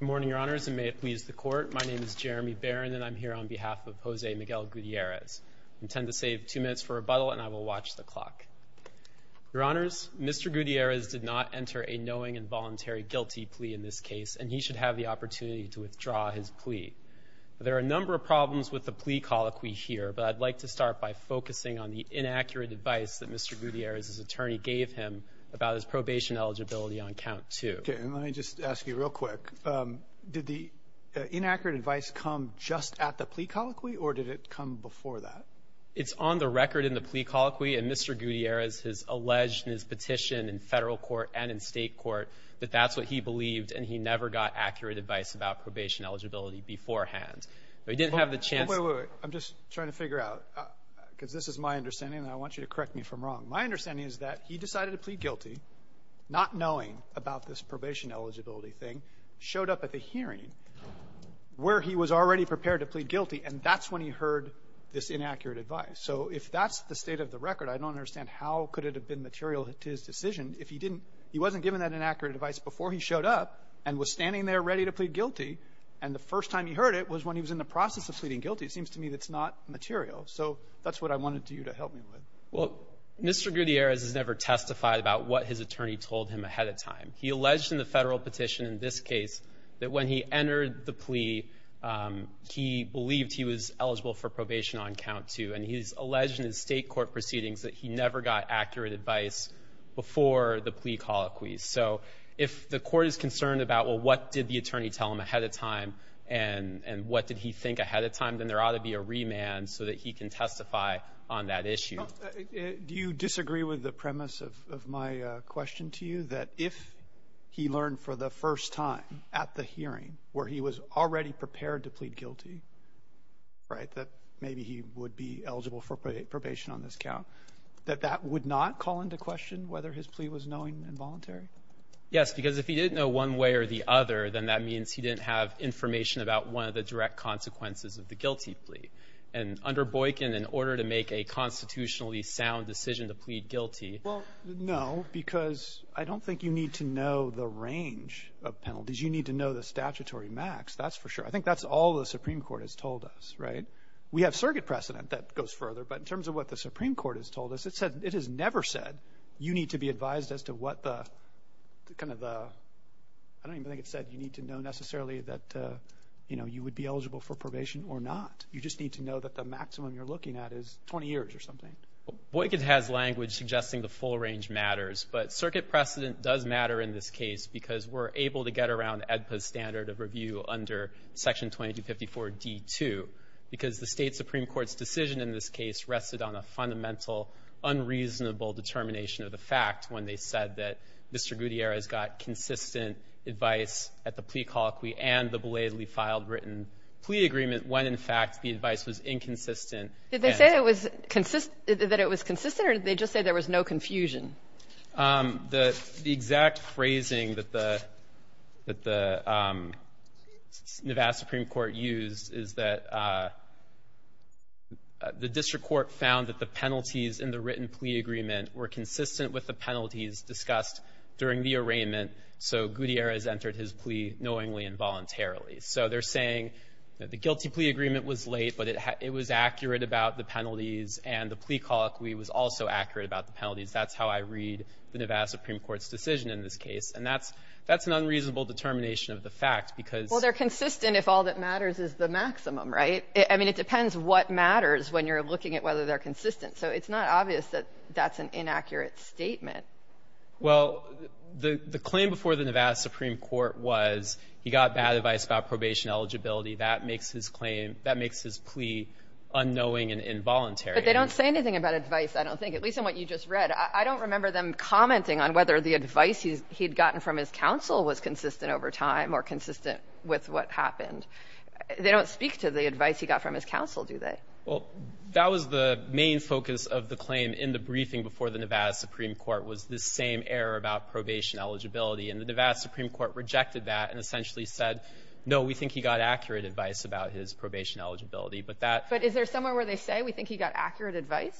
morning your honors and may it please the court my name is Jeremy Baron and I'm here on behalf of Jose Miguel Gutierrez intend to save two minutes for rebuttal and I will watch the clock your honors mr. Gutierrez did not enter a knowing and voluntary guilty plea in this case and he should have the opportunity to withdraw his plea there are a number of problems with the plea colloquy here but I'd like to start by focusing on the inaccurate advice that mr. Gutierrez's attorney gave him about his probation eligibility on count to let me just ask you real quick did the inaccurate advice come just at the plea colloquy or did it come before that it's on the record in the plea colloquy and mr. Gutierrez has alleged in his petition in federal court and in state court but that's what he believed and he never got accurate advice about probation eligibility beforehand but he didn't have the chance I'm just trying to figure out because this is my understanding I want you to correct me from wrong my understanding is that he decided to plead guilty not knowing about this probation eligibility thing showed up at the hearing where he was already prepared to plead guilty and that's when he heard this inaccurate advice so if that's the state of the record I don't understand how could it have been material to his decision if he didn't he wasn't given that inaccurate advice before he showed up and was standing there ready to plead guilty and the first time he heard it was when he was in the process of pleading guilty it seems to me that's not material so that's what I wanted to you to help me with well mr. Gutierrez has never testified about what his attorney told him ahead of time he alleged in the federal petition in this case that when he entered the plea he believed he was eligible for probation on count two and he's alleged in his state court proceedings that he never got accurate advice before the plea colloquy so if the court is concerned about well what did the attorney tell him ahead of time and and what did he think ahead of time then there ought to be a remand so that he can testify on that issue do you that if he learned for the first time at the hearing where he was already prepared to plead guilty right that maybe he would be eligible for probation on this count that that would not call into question whether his plea was knowing involuntary yes because if he didn't know one way or the other then that means he didn't have information about one of the direct consequences of the guilty plea and under Boykin in order to make a constitutionally sound decision to plead guilty well no because I don't think you need to know the range of penalties you need to know the statutory max that's for sure I think that's all the Supreme Court has told us right we have circuit precedent that goes further but in terms of what the Supreme Court has told us it said it has never said you need to be advised as to what the kind of I don't even think it said you need to know necessarily that you know you would be eligible for probation or not you just need to know that the maximum you're looking at is 20 years or something Boykin has language suggesting the full range matters but circuit precedent does matter in this case because we're able to get around Edpus standard of review under section 2254 d2 because the state Supreme Court's decision in this case rested on a fundamental unreasonable determination of the fact when they said that Mr. Gutierrez got consistent advice at the plea colloquy and the belatedly filed written plea agreement when in fact the advice was inconsistent did they say it was consistent that it was consistent or did they just say there was no confusion the the exact phrasing that the that the Supreme Court used is that the district court found that the penalties in the written plea agreement were consistent with the penalties discussed during the arraignment so Gutierrez entered his plea knowingly involuntarily so they're saying that the it was accurate about the penalties and the plea colloquy was also accurate about the penalties that's how I read the Nevada Supreme Court's decision in this case and that's that's an unreasonable determination of the fact because well they're consistent if all that matters is the maximum right I mean it depends what matters when you're looking at whether they're consistent so it's not obvious that that's an inaccurate statement well the the claim before the Nevada Supreme Court was he got bad advice about probation eligibility that makes his claim that makes his plea unknowing and involuntary but they don't say anything about advice I don't think at least in what you just read I don't remember them commenting on whether the advice he's he'd gotten from his counsel was consistent over time or consistent with what happened they don't speak to the advice he got from his counsel do they well that was the main focus of the claim in the briefing before the Nevada Supreme Court was the same error about probation eligibility and the Nevada Supreme Court rejected that and his probation eligibility but that but is there somewhere where they say we think he got accurate advice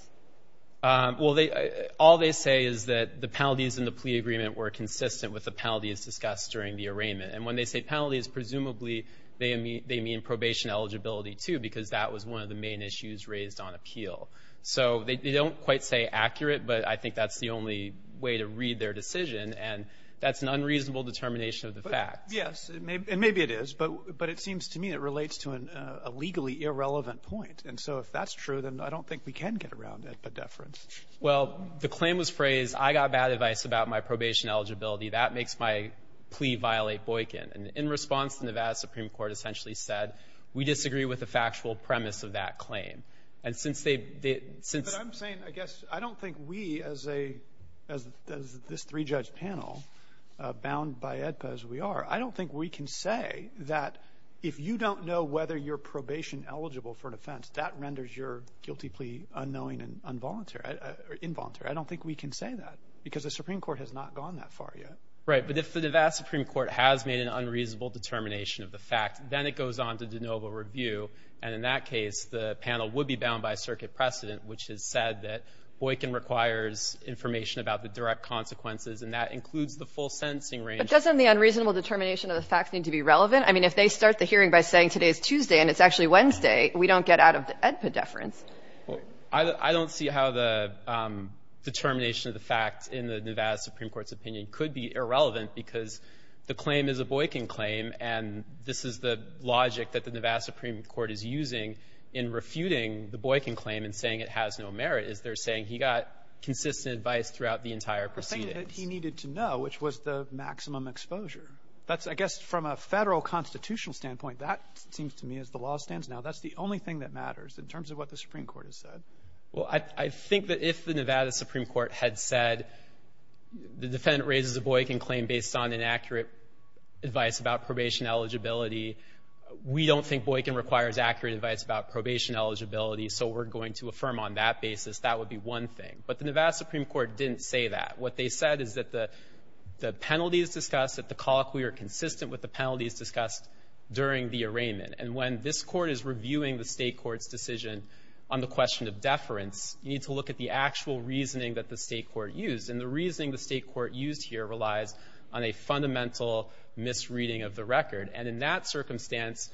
well they all they say is that the penalties in the plea agreement were consistent with the penalties discussed during the arraignment and when they say penalties presumably they mean they mean probation eligibility too because that was one of the main issues raised on appeal so they don't quite say accurate but I think that's the only way to read their decision and that's an unreasonable determination of the fact yes maybe it is but but it seems to me it relates to an illegally irrelevant point and so if that's true then I don't think we can get around it but deference well the claim was phrased I got bad advice about my probation eligibility that makes my plea violate Boykin and in response to Nevada Supreme Court essentially said we disagree with the factual premise of that claim and since they did since I'm saying I guess I don't think we as a as this three judge panel bound by EDPA as we are I don't think we can say that if you don't know whether you're probation eligible for an offense that renders your guilty plea unknowing and involuntary involuntary I don't think we can say that because the Supreme Court has not gone that far yet right but if the Nevada Supreme Court has made an unreasonable determination of the fact then it goes on to de novo review and in that case the panel would be bound by circuit precedent which has said that Boykin requires information about the direct consequences and that includes the full sentencing range but doesn't the unreasonable determination of the facts need to be relevant I mean if they start the hearing by saying today's Tuesday and it's actually Wednesday we don't get out of the EDPA deference I don't see how the determination of the facts in the Nevada Supreme Court's opinion could be irrelevant because the claim is a Boykin claim and this is the logic that the Nevada Supreme Court is using in refuting the Boykin claim and saying it has no merit is they're saying he got consistent advice throughout the entire proceedings he needed to know which was the maximum exposure that's I guess from a federal constitutional standpoint that seems to me as the law stands now that's the only thing that matters in terms of what the Supreme Court has said well I think that if the Nevada Supreme Court had said the defendant raises a Boykin claim based on inaccurate advice about probation eligibility we don't think Boykin requires accurate advice about probation eligibility so we're going to affirm on that basis that would be one thing but the penalties discussed at the colloquy are consistent with the penalties discussed during the arraignment and when this court is reviewing the state court's decision on the question of deference you need to look at the actual reasoning that the state court used and the reasoning the state court used here relies on a fundamental misreading of the record and in that circumstance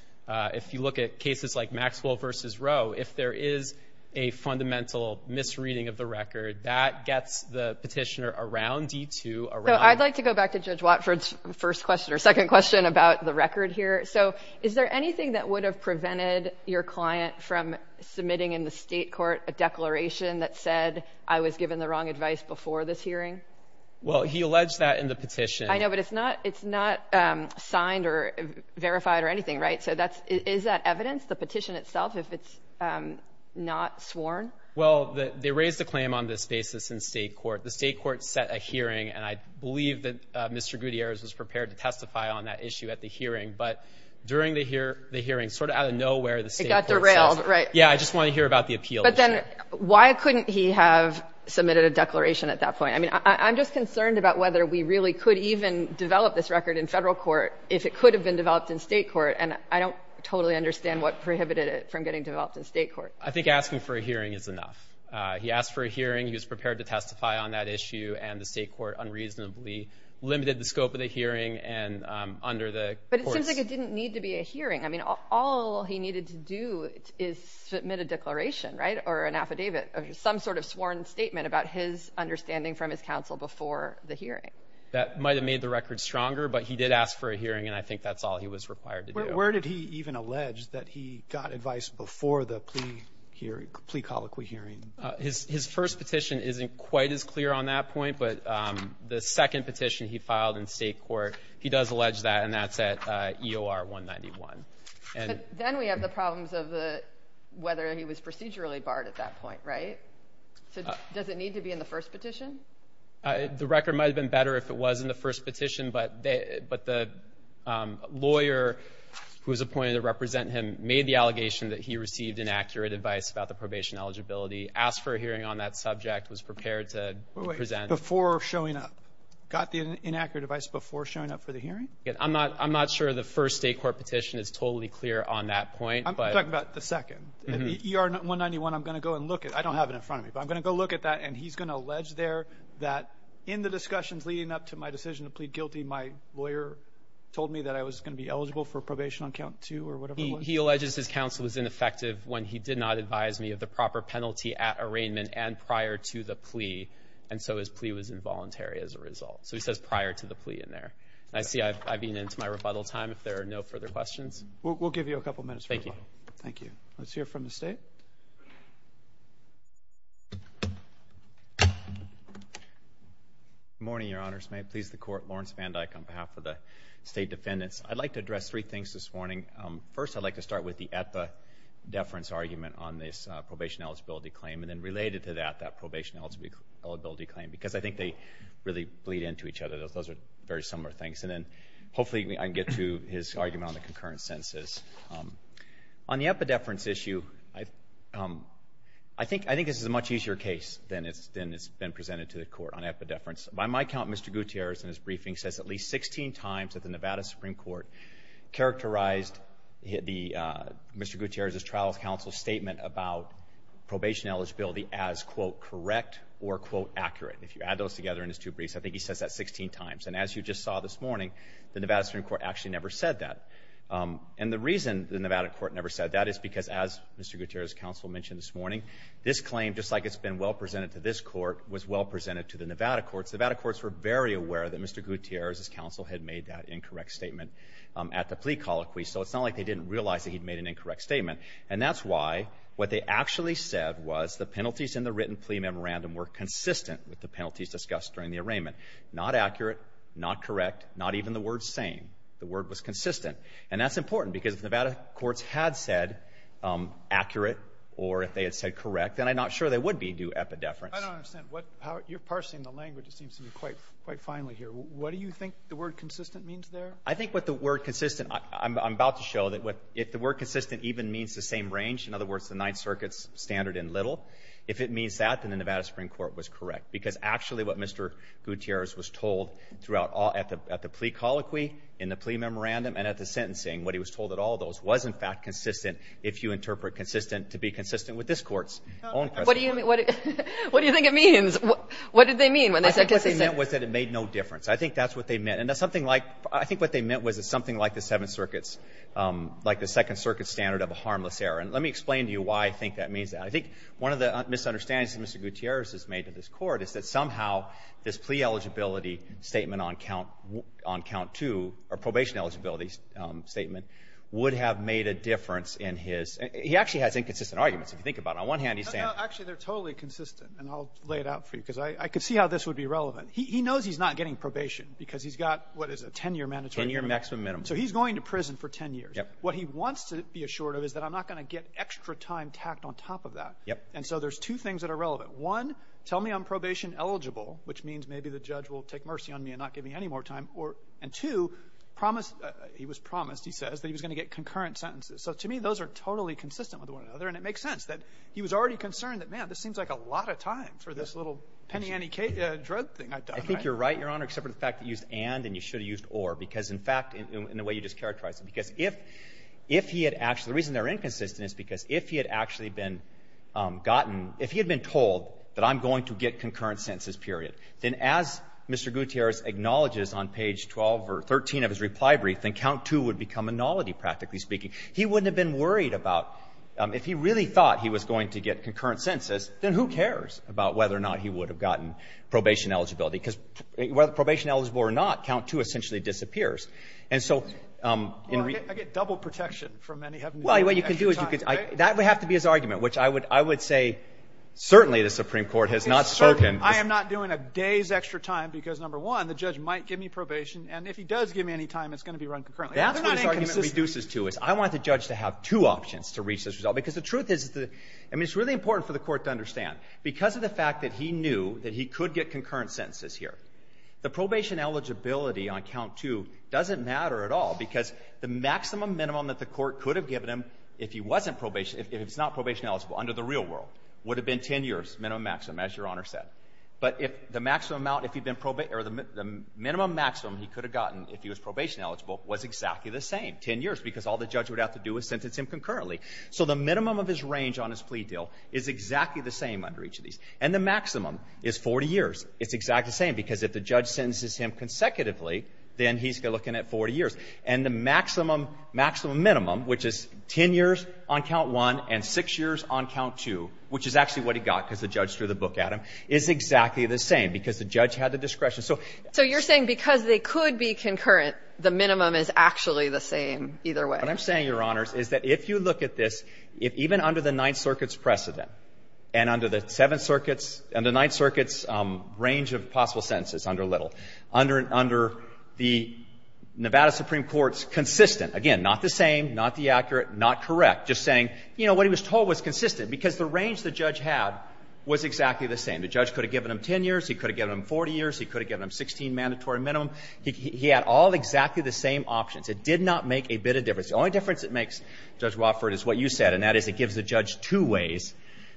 if you look at cases like Maxwell versus Roe if there is a fundamental misreading of the record that gets the petitioner around D2 around I'd like to go back to Judge Watford's first question or second question about the record here so is there anything that would have prevented your client from submitting in the state court a declaration that said I was given the wrong advice before this hearing well he alleged that in the petition I know but it's not it's not signed or verified or anything right so that's is that evidence the petition itself if it's not sworn well they raised a claim on this basis in state court the state court set a hearing and I believe that Mr. Gutierrez was prepared to testify on that issue at the hearing but during the here the hearing sort of out of nowhere the state got derailed right yeah I just want to hear about the appeal but then why couldn't he have submitted a declaration at that point I mean I'm just concerned about whether we really could even develop this record in federal court if it could have been developed in state court and I don't totally understand what prohibited it from getting developed in state court I think asking for a hearing is enough he asked for a hearing he was prepared to testify on that issue and the state court unreasonably limited the scope of the hearing and under the it didn't need to be a hearing I mean all he needed to do is submit a declaration right or an affidavit some sort of sworn statement about his understanding from his counsel before the hearing that might have made the record stronger but he did ask for a hearing and I think that's all he was required to do where did he even allege that he got advice before the plea hearing plea colloquy hearing his first petition isn't quite as clear on that point but the second petition he filed in state court he does allege that and that's at EOR 191 and then we have the problems of the whether he was procedurally barred at that point right so does it need to be in the first petition the record might have been better if it was in the first petition but they but the lawyer who was appointed to represent him made the allegation that he received inaccurate advice about the probation eligibility asked for a hearing on that subject was prepared to present before showing up got the inaccurate advice before showing up for the hearing I'm not I'm not sure the first state court petition is totally clear on that point but about the second ER 191 I'm gonna go and look at I don't have it in front of me but I'm gonna go look at that and he's gonna allege there that in the discussions leading up to my decision to plead guilty my lawyer told me that I was gonna be eligible for probation on count two or whatever he alleges his counsel was ineffective when he did not advise me of the proper penalty at arraignment and prior to the plea and so his plea was involuntary as a result so he says prior to the plea in there I see I've been into my rebuttal time if there are no further questions we'll give you a couple minutes thank you thank you let's hear from the state morning your honors may please the court Lawrence van Dyck on behalf of the state defendants I'd like to address three things this morning first I'd like to start with the at the deference argument on this probation eligibility claim and then related to that that probation eligibility claim because I think they really bleed into each other those those are very similar things and then hopefully I can get to his argument on the concurrent senses on the epidephrin issue I I think I think this is a much easier case than it's then it's been presented to the court on epidephrin by my count mr. Gutierrez in the Nevada Supreme Court characterized the mr. Gutierrez's trials counsel statement about probation eligibility as quote correct or quote accurate if you add those together in his two briefs I think he says that 16 times and as you just saw this morning the Nevada Supreme Court actually never said that and the reason the Nevada court never said that is because as mr. Gutierrez counsel mentioned this morning this claim just like it's been well presented to this court was well presented to the Nevada courts Nevada courts were very aware that mr. Gutierrez's counsel had made that incorrect statement at the plea colloquy so it's not like they didn't realize that he'd made an incorrect statement and that's why what they actually said was the penalties in the written plea memorandum were consistent with the penalties discussed during the arraignment not accurate not correct not even the word same the word was consistent and that's important because Nevada courts had said accurate or if they had said correct then I'm not sure they would be do epidephrin what you're finally here what do you think the word consistent means there I think what the word consistent I'm about to show that what if the word consistent even means the same range in other words the Ninth Circuit's standard in little if it means that than the Nevada Supreme Court was correct because actually what mr. Gutierrez was told throughout all at the plea colloquy in the plea memorandum and at the sentencing what he was told that all those was in fact consistent if you interpret consistent to be consistent with this courts own what do you mean what do you difference I think that's what they meant and that's something like I think what they meant was it's something like the Seventh Circuit's like the Second Circuit standard of a harmless error and let me explain to you why I think that means that I think one of the misunderstandings mr. Gutierrez has made to this court is that somehow this plea eligibility statement on count on count two or probation eligibility statement would have made a difference in his he actually has inconsistent arguments if you think about on one hand he's saying actually they're totally consistent and I'll lay it out for you because I could see how this would be relevant he knows he's not getting probation because he's got what is a 10-year mandatory your maximum minimum so he's going to prison for 10 years what he wants to be assured of is that I'm not gonna get extra time tacked on top of that yep and so there's two things that are relevant one tell me I'm probation eligible which means maybe the judge will take mercy on me and not give me any more time or and to promise he was promised he says that he was gonna get concurrent sentences so to me those are totally consistent with one another and it makes sense that he was already concerned that man this seems like a lot of time for this little penny any K dread thing I think you're right your honor except for the fact that used and and you should have used or because in fact in the way you just characterized because if if he had actually reason they're inconsistent is because if he had actually been gotten if he had been told that I'm going to get concurrent sentences period then as mr. Gutierrez acknowledges on page 12 or 13 of his reply brief then count two would become a knowledge practically speaking he wouldn't have been worried about if he really thought he was going to get concurrent census then who cares about whether or not he would have gotten probation eligibility because whether the probation eligible or not count to essentially disappears and so I get double protection from any well you can do is you could I that would have to be his argument which I would I would say certainly the Supreme Court has not spoken I am NOT doing a day's extra time because number one the judge might give me probation and if he does give me any time it's going to be run reduces to is I want the judge to have two options to reach this result because the truth is the I mean it's really important for the court to understand because of the fact that he knew that he could get concurrent sentences here the probation eligibility on count to doesn't matter at all because the maximum minimum that the court could have given him if he wasn't probation if it's not probation eligible under the real world would have been ten years minimum maximum as your honor said but if the maximum amount if you've been probate or the minimum maximum he could have gotten if he was probation eligible was exactly the same 10 years because all the judge would have to do is sentence him concurrently so the minimum of his range on his plea deal is exactly the same under each of these and the maximum is 40 years it's exactly the same because if the judge sentences him consecutively then he's looking at 40 years and the maximum maximum minimum which is 10 years on count 1 and 6 years on count 2 which is actually what he got because the judge threw the book at him is exactly the same because the judge had the discretion so so you're saying because they could be concurrent the minimum is actually the same either way I'm saying your honors is that if you look at this if even under the Ninth Circuit's precedent and under the Seventh Circuit's and the Ninth Circuit's range of possible sentences under little under under the Nevada Supreme Court's consistent again not the same not the accurate not correct just saying you know what he was told was consistent because the range the judge had was exactly the same the judge could have given him 10 years he could have given him 40 years he could have given him 16 mandatory minimum he had all exactly the same options it did not make a bit of difference the only difference it makes judge Wofford is what you said and that is it gives the judge two ways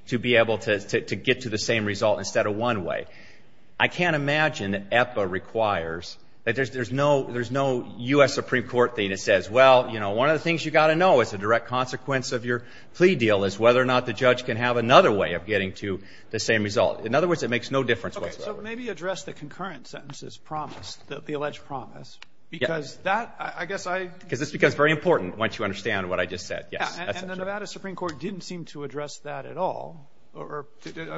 to be able to get to the same result instead of one way I can't imagine that EPA requires that there's there's no there's no US Supreme Court thing that says well you know one of the things you got to know is the direct consequence of your plea deal is whether or not the judge can have another way of getting to the same result in other words it makes no difference maybe address the concurrent sentences promised that the alleged promise because that I guess I because it's because very important once you understand what I just said yes the Nevada Supreme Court didn't seem to address that at all or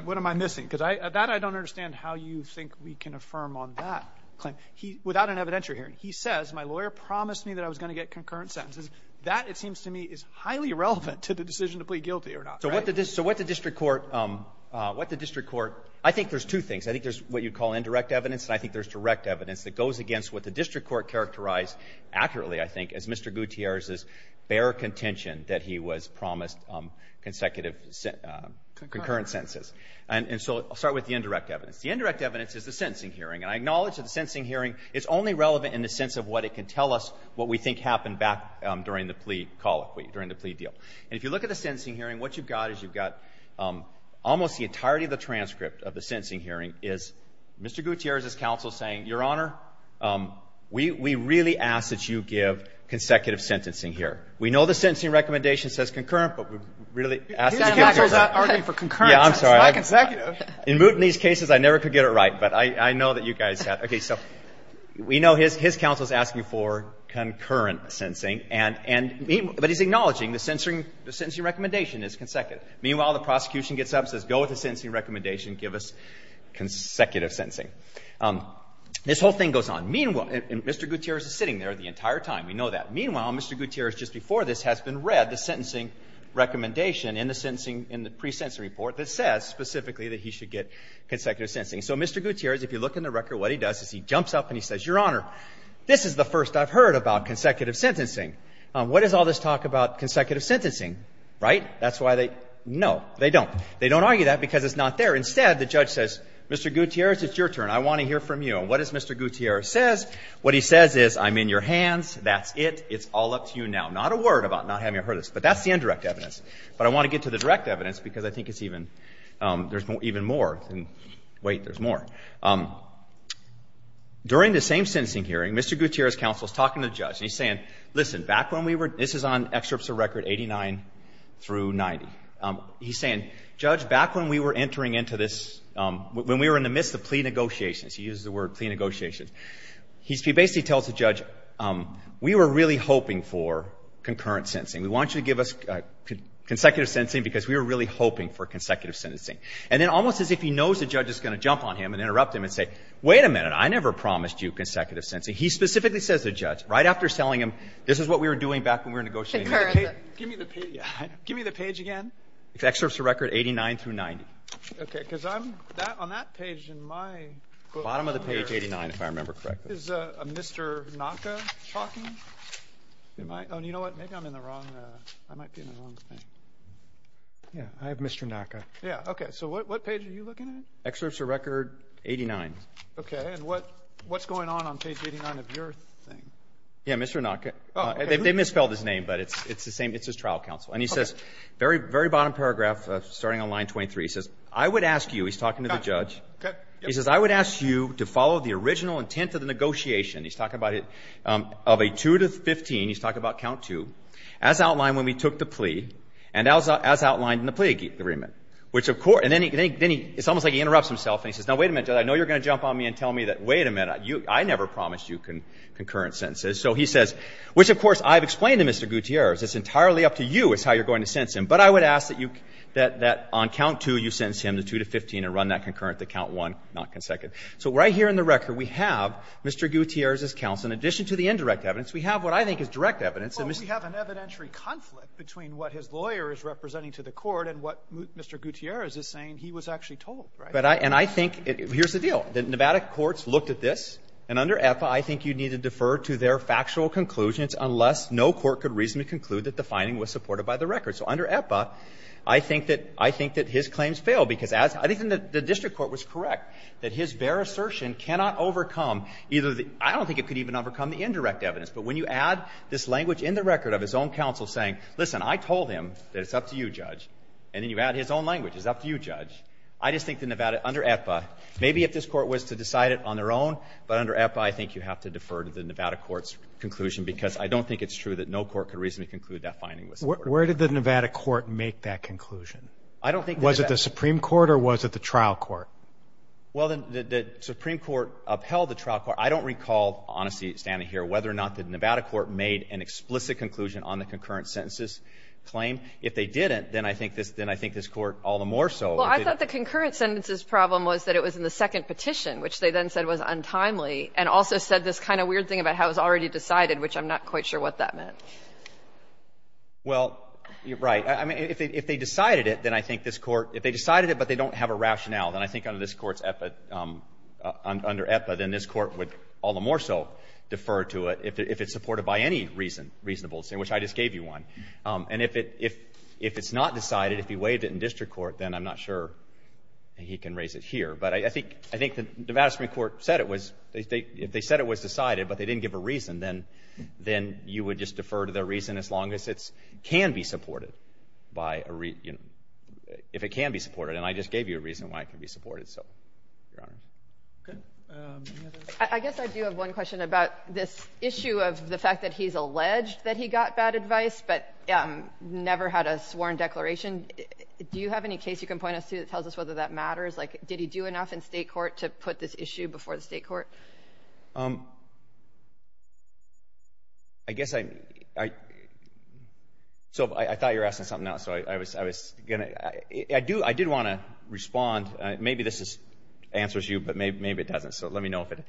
what am I missing because I that I don't understand how you think we can affirm on that claim he without an evidentiary hearing he says my lawyer promised me that I was going to get concurrent sentences that it seems to me is highly relevant to the decision to plead guilty or not so what did this court what the district court I think there's two things I think there's what you'd call indirect evidence and I think there's direct evidence that goes against what the district court characterized accurately I think as mr. Gutierrez is bare contention that he was promised consecutive concurrent sentences and and so I'll start with the indirect evidence the indirect evidence is the sentencing hearing and I acknowledge that the sentencing hearing is only relevant in the sense of what it can tell us what we think happened back during the plea colloquy during the plea deal and if you look at the sentencing hearing what you've got is you've got almost the entirety of the transcript of the sentencing hearing is mr. Gutierrez is counsel saying your honor we really ask that you give consecutive sentencing here we know the sentencing recommendation says concurrent but we're really asking for concurrent I'm sorry I can say in mood in these cases I never could get it right but I know that you guys have okay so we know his his counsel is asking for concurrent sentencing and and but he's answering the sentencing recommendation is consecutive meanwhile the prosecution gets up says go with the sentencing recommendation give us consecutive sentencing this whole thing goes on meanwhile and mr. Gutierrez is sitting there the entire time we know that meanwhile mr. Gutierrez just before this has been read the sentencing recommendation in the sensing in the pre-sentencing report that says specifically that he should get consecutive sentencing so mr. Gutierrez if you look in the record what he does is he jumps up and he says your honor this is the first I've heard about consecutive sentencing what is all this talk about consecutive sentencing right that's why they know they don't they don't argue that because it's not there instead the judge says mr. Gutierrez it's your turn I want to hear from you what is mr. Gutierrez says what he says is I'm in your hands that's it it's all up to you now not a word about not having a her this but that's the indirect evidence but I want to get to the direct evidence because I think it's even there's more even more and wait there's more during the same sensing hearing mr. Gutierrez counsel is talking to judge he's saying listen back when we were this is on excerpts of record 89 through 90 he's saying judge back when we were entering into this when we were in the midst of plea negotiations he uses the word plea negotiations he's basically tells the judge we were really hoping for concurrent sensing we want you to give us consecutive sensing because we were really hoping for consecutive sentencing and then almost as if he knows the judge is going to jump on him and interrupt him and say wait a minute I never promised you consecutive sensing he specifically says the judge right after selling him this is what we were doing back when we were negotiating give me the page again it's excerpts of record 89 through 90 okay because I'm that on that page in my bottom of the page 89 if I remember correct is mr. Naka talking you know what maybe I'm in the wrong yeah I have mr. Naka yeah okay so what page are you looking excerpts a record 89 okay and what what's going on on page 89 of your thing yeah mr. Naka they misspelled his name but it's it's the same it's his trial counsel and he says very very bottom paragraph starting on line 23 says I would ask you he's talking to the judge he says I would ask you to follow the original intent of the negotiation he's talking about it of a 2 to 15 he's talking about count to as outlined when we took the plea and as outlined in the plague agreement which of course and then he can any it's almost like he interrupts himself and he says now wait a minute I know you're gonna jump on me and tell me that wait a minute you I never promised you can concurrent sentences so he says which of course I've explained to mr. Gutierrez it's entirely up to you is how you're going to sense him but I would ask that you that that on count to you sentenced him to 2 to 15 and run that concurrent to count one not consecutive so right here in the record we have mr. Gutierrez's counsel in addition to the indirect evidence we have what I think is direct evidence and we have an evidentiary conflict between what his lawyer is representing to the court and what mr. Gutierrez is saying he was actually told right but I and I think it here's the deal the nevada courts looked at this and under epa I think you need to defer to their factual conclusions unless no court could reasonably conclude that the finding was supported by the record so under epa I think that I think that his claims fail because as I think that the district court was correct that his bare assertion cannot overcome either the I don't think it could even overcome the indirect evidence but when you add this language in the record of his own counsel saying listen I told him that it's up to you judge and then you add his own language is up to you judge I just think the Nevada under epa maybe if this court was to decide it on their own but under epa I think you have to defer to the nevada courts conclusion because I don't think it's true that no court could reason to conclude that finding was where did the nevada court make that conclusion I don't think was it the supreme court or was it the trial court well then the supreme court upheld the trial court I don't recall honesty standing here whether or not the nevada court made an explicit conclusion on the concurrent sentences claim if they didn't then I think this then I think this court all the more so well I thought the concurrent sentences problem was that it was in the second petition which they then said was untimely and also said this kind of weird thing about how it was already decided which I'm not quite sure what that meant well you're right I mean if they decided it then I think this court if they decided it but they don't have a rationale then I think under this courts epa under epa then this court would all the more so defer to it if it's supported by any reason reasonable saying which I just gave you one and if it if if it's not decided if he waived it in district court then I'm not sure he can raise it here but I think I think the devastating court said it was they think if they said it was decided but they didn't give a reason then then you would just defer to their reason as long as it's can be supported by a reason if it can be supported and I just gave you a reason why it can be supported so I guess I do have one question about this issue of the fact that he's alleged that he got bad advice but never had a sworn declaration do you have any case you can point us to that tells us whether that matters like did he do enough in state court to put this issue before the court I guess I so I thought you're asking something else I was I was gonna I do I did want to respond maybe this is answers you but maybe maybe it doesn't so let me know if it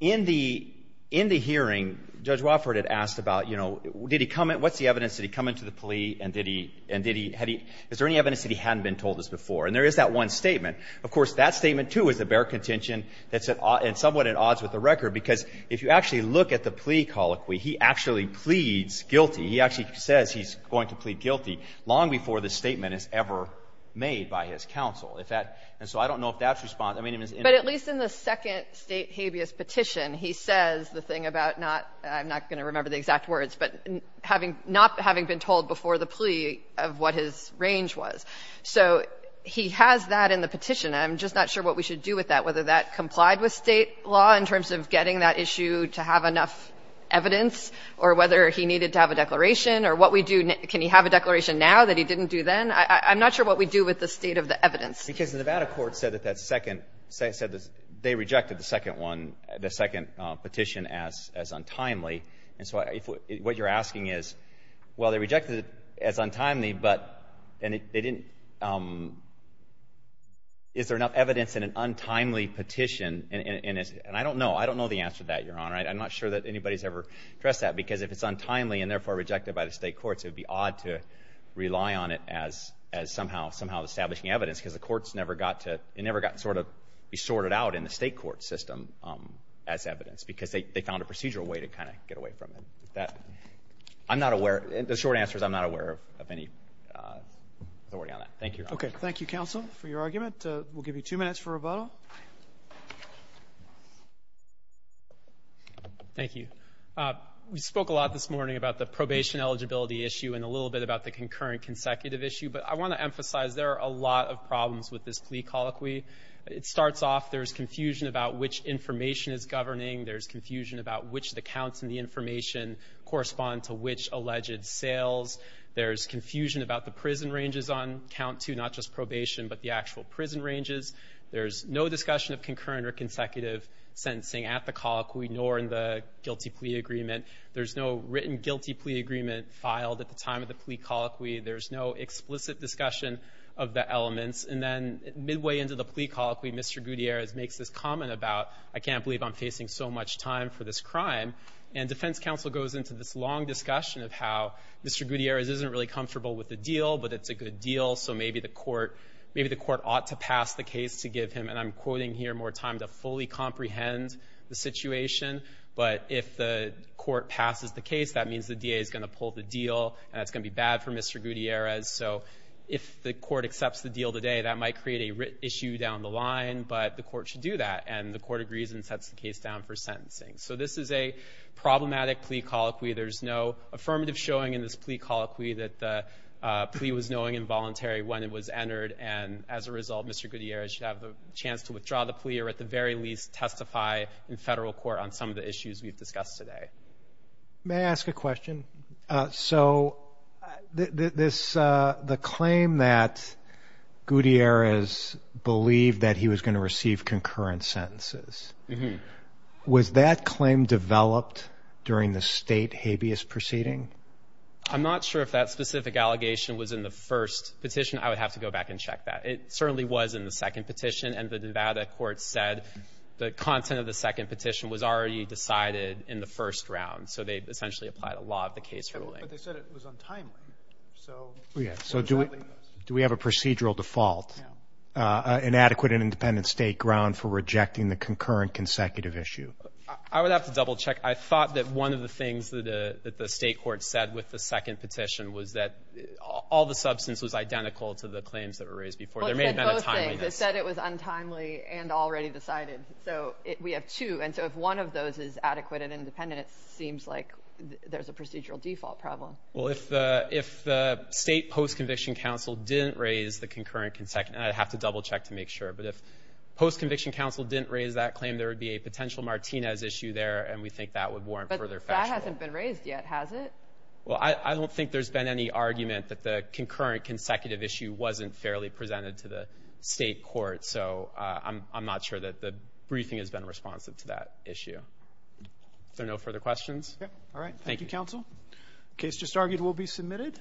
in the in the hearing judge Wofford had asked about you know did he come in what's the evidence did he come into the plea and did he and did he had he is there any evidence that he hadn't been told this before and there is that one statement of course that statement too is a bare contention that's an odd and somewhat at odds with the record because if you actually look at the plea colloquy he actually pleads guilty he actually says he's going to plead guilty long before the statement is ever made by his counsel if that and so I don't know if that's response I mean it was but at least in the second state habeas petition he says the thing about not I'm not going to remember the exact words but having not having been told before the plea of what his range was so he has that in the petition I'm just not sure what we should do with that whether that complied with state law in terms of getting that issue to have enough evidence or whether he needed to have a declaration or what we do can you have a declaration now that he didn't do then I'm not sure what we do with the state of the evidence because the Nevada court said that that second say said this they rejected the second one the second petition as as untimely and so if what you're asking is well they rejected it as untimely but and they didn't is there enough evidence in an untimely petition and it's and I don't know I don't know the answer that you're on right I'm not sure that anybody's ever dressed that because if it's untimely and therefore rejected by the state courts it would be odd to rely on it as as somehow somehow establishing evidence because the courts never got to it never got sort of be sorted out in the state court system as evidence because they found a procedural way to kind of get away from it that I'm not aware the short answer is I'm not aware of any authority on that thank you okay thank you counsel for your argument we'll give you two minutes for rebuttal thank you we spoke a lot this morning about the probation eligibility issue and a little bit about the concurrent consecutive issue but I want to emphasize there are a lot of problems with this plea colloquy it starts off there's confusion about which information is governing there's confusion about which the counts and the information correspond to which alleged sales there's confusion about the prison ranges on count to not just probation but the actual prison ranges there's no discussion of concurrent or consecutive sentencing at the colloquy nor in the guilty plea agreement there's no written guilty plea agreement filed at the time of the plea colloquy there's no explicit discussion of the elements and then midway into the plea colloquy mr. Gutierrez makes this comment about I can't believe I'm facing so much time for this crime and defense counsel goes into this long discussion of how mr. Gutierrez isn't really comfortable with the deal but it's a good deal so maybe the court maybe the court ought to pass the case to give him and I'm quoting here more time to fully comprehend the situation but if the court passes the case that means the DA is going to pull the deal and it's gonna be bad for mr. Gutierrez so if the court accepts the deal today that might create a written issue down the line but the court should do that and the court agrees and sets the case down for sentencing so this is a problematic plea colloquy there's no affirmative showing in this plea colloquy that the plea was knowing involuntary when it was entered and as a result mr. Gutierrez should have the chance to withdraw the plea or at the very least testify in federal court on some of the issues we've discussed today may I ask a question so this the claim that Gutierrez believed that he was going to receive concurrent sentences was that claim developed during the state habeas proceeding I'm not sure if that specific allegation was in the first petition I would have to go back and check that it certainly was in the second petition and the Nevada court said the content of the second petition was already decided in the first round so they essentially applied a law of the case ruling but they said it was untimely so yeah so do we do we have a procedural default inadequate and independent state ground for rejecting the concurrent consecutive issue I would have to double check I thought that one of the things that the state court said with the second petition was that all the substance was identical to the claims that were raised before there may have been a time they said it was untimely and already decided so we have two and so if one of those is adequate and independent it well if the if the state post-conviction council didn't raise the concurrent consecutive I'd have to double check to make sure but if post-conviction council didn't raise that claim there would be a potential Martinez issue there and we think that would warrant further that hasn't been raised yet has it well I don't think there's been any argument that the concurrent consecutive issue wasn't fairly presented to the state court so I'm I'm not sure that the briefing has been responsive to that issue so no further questions all right thank you counsel case just argued will be submitted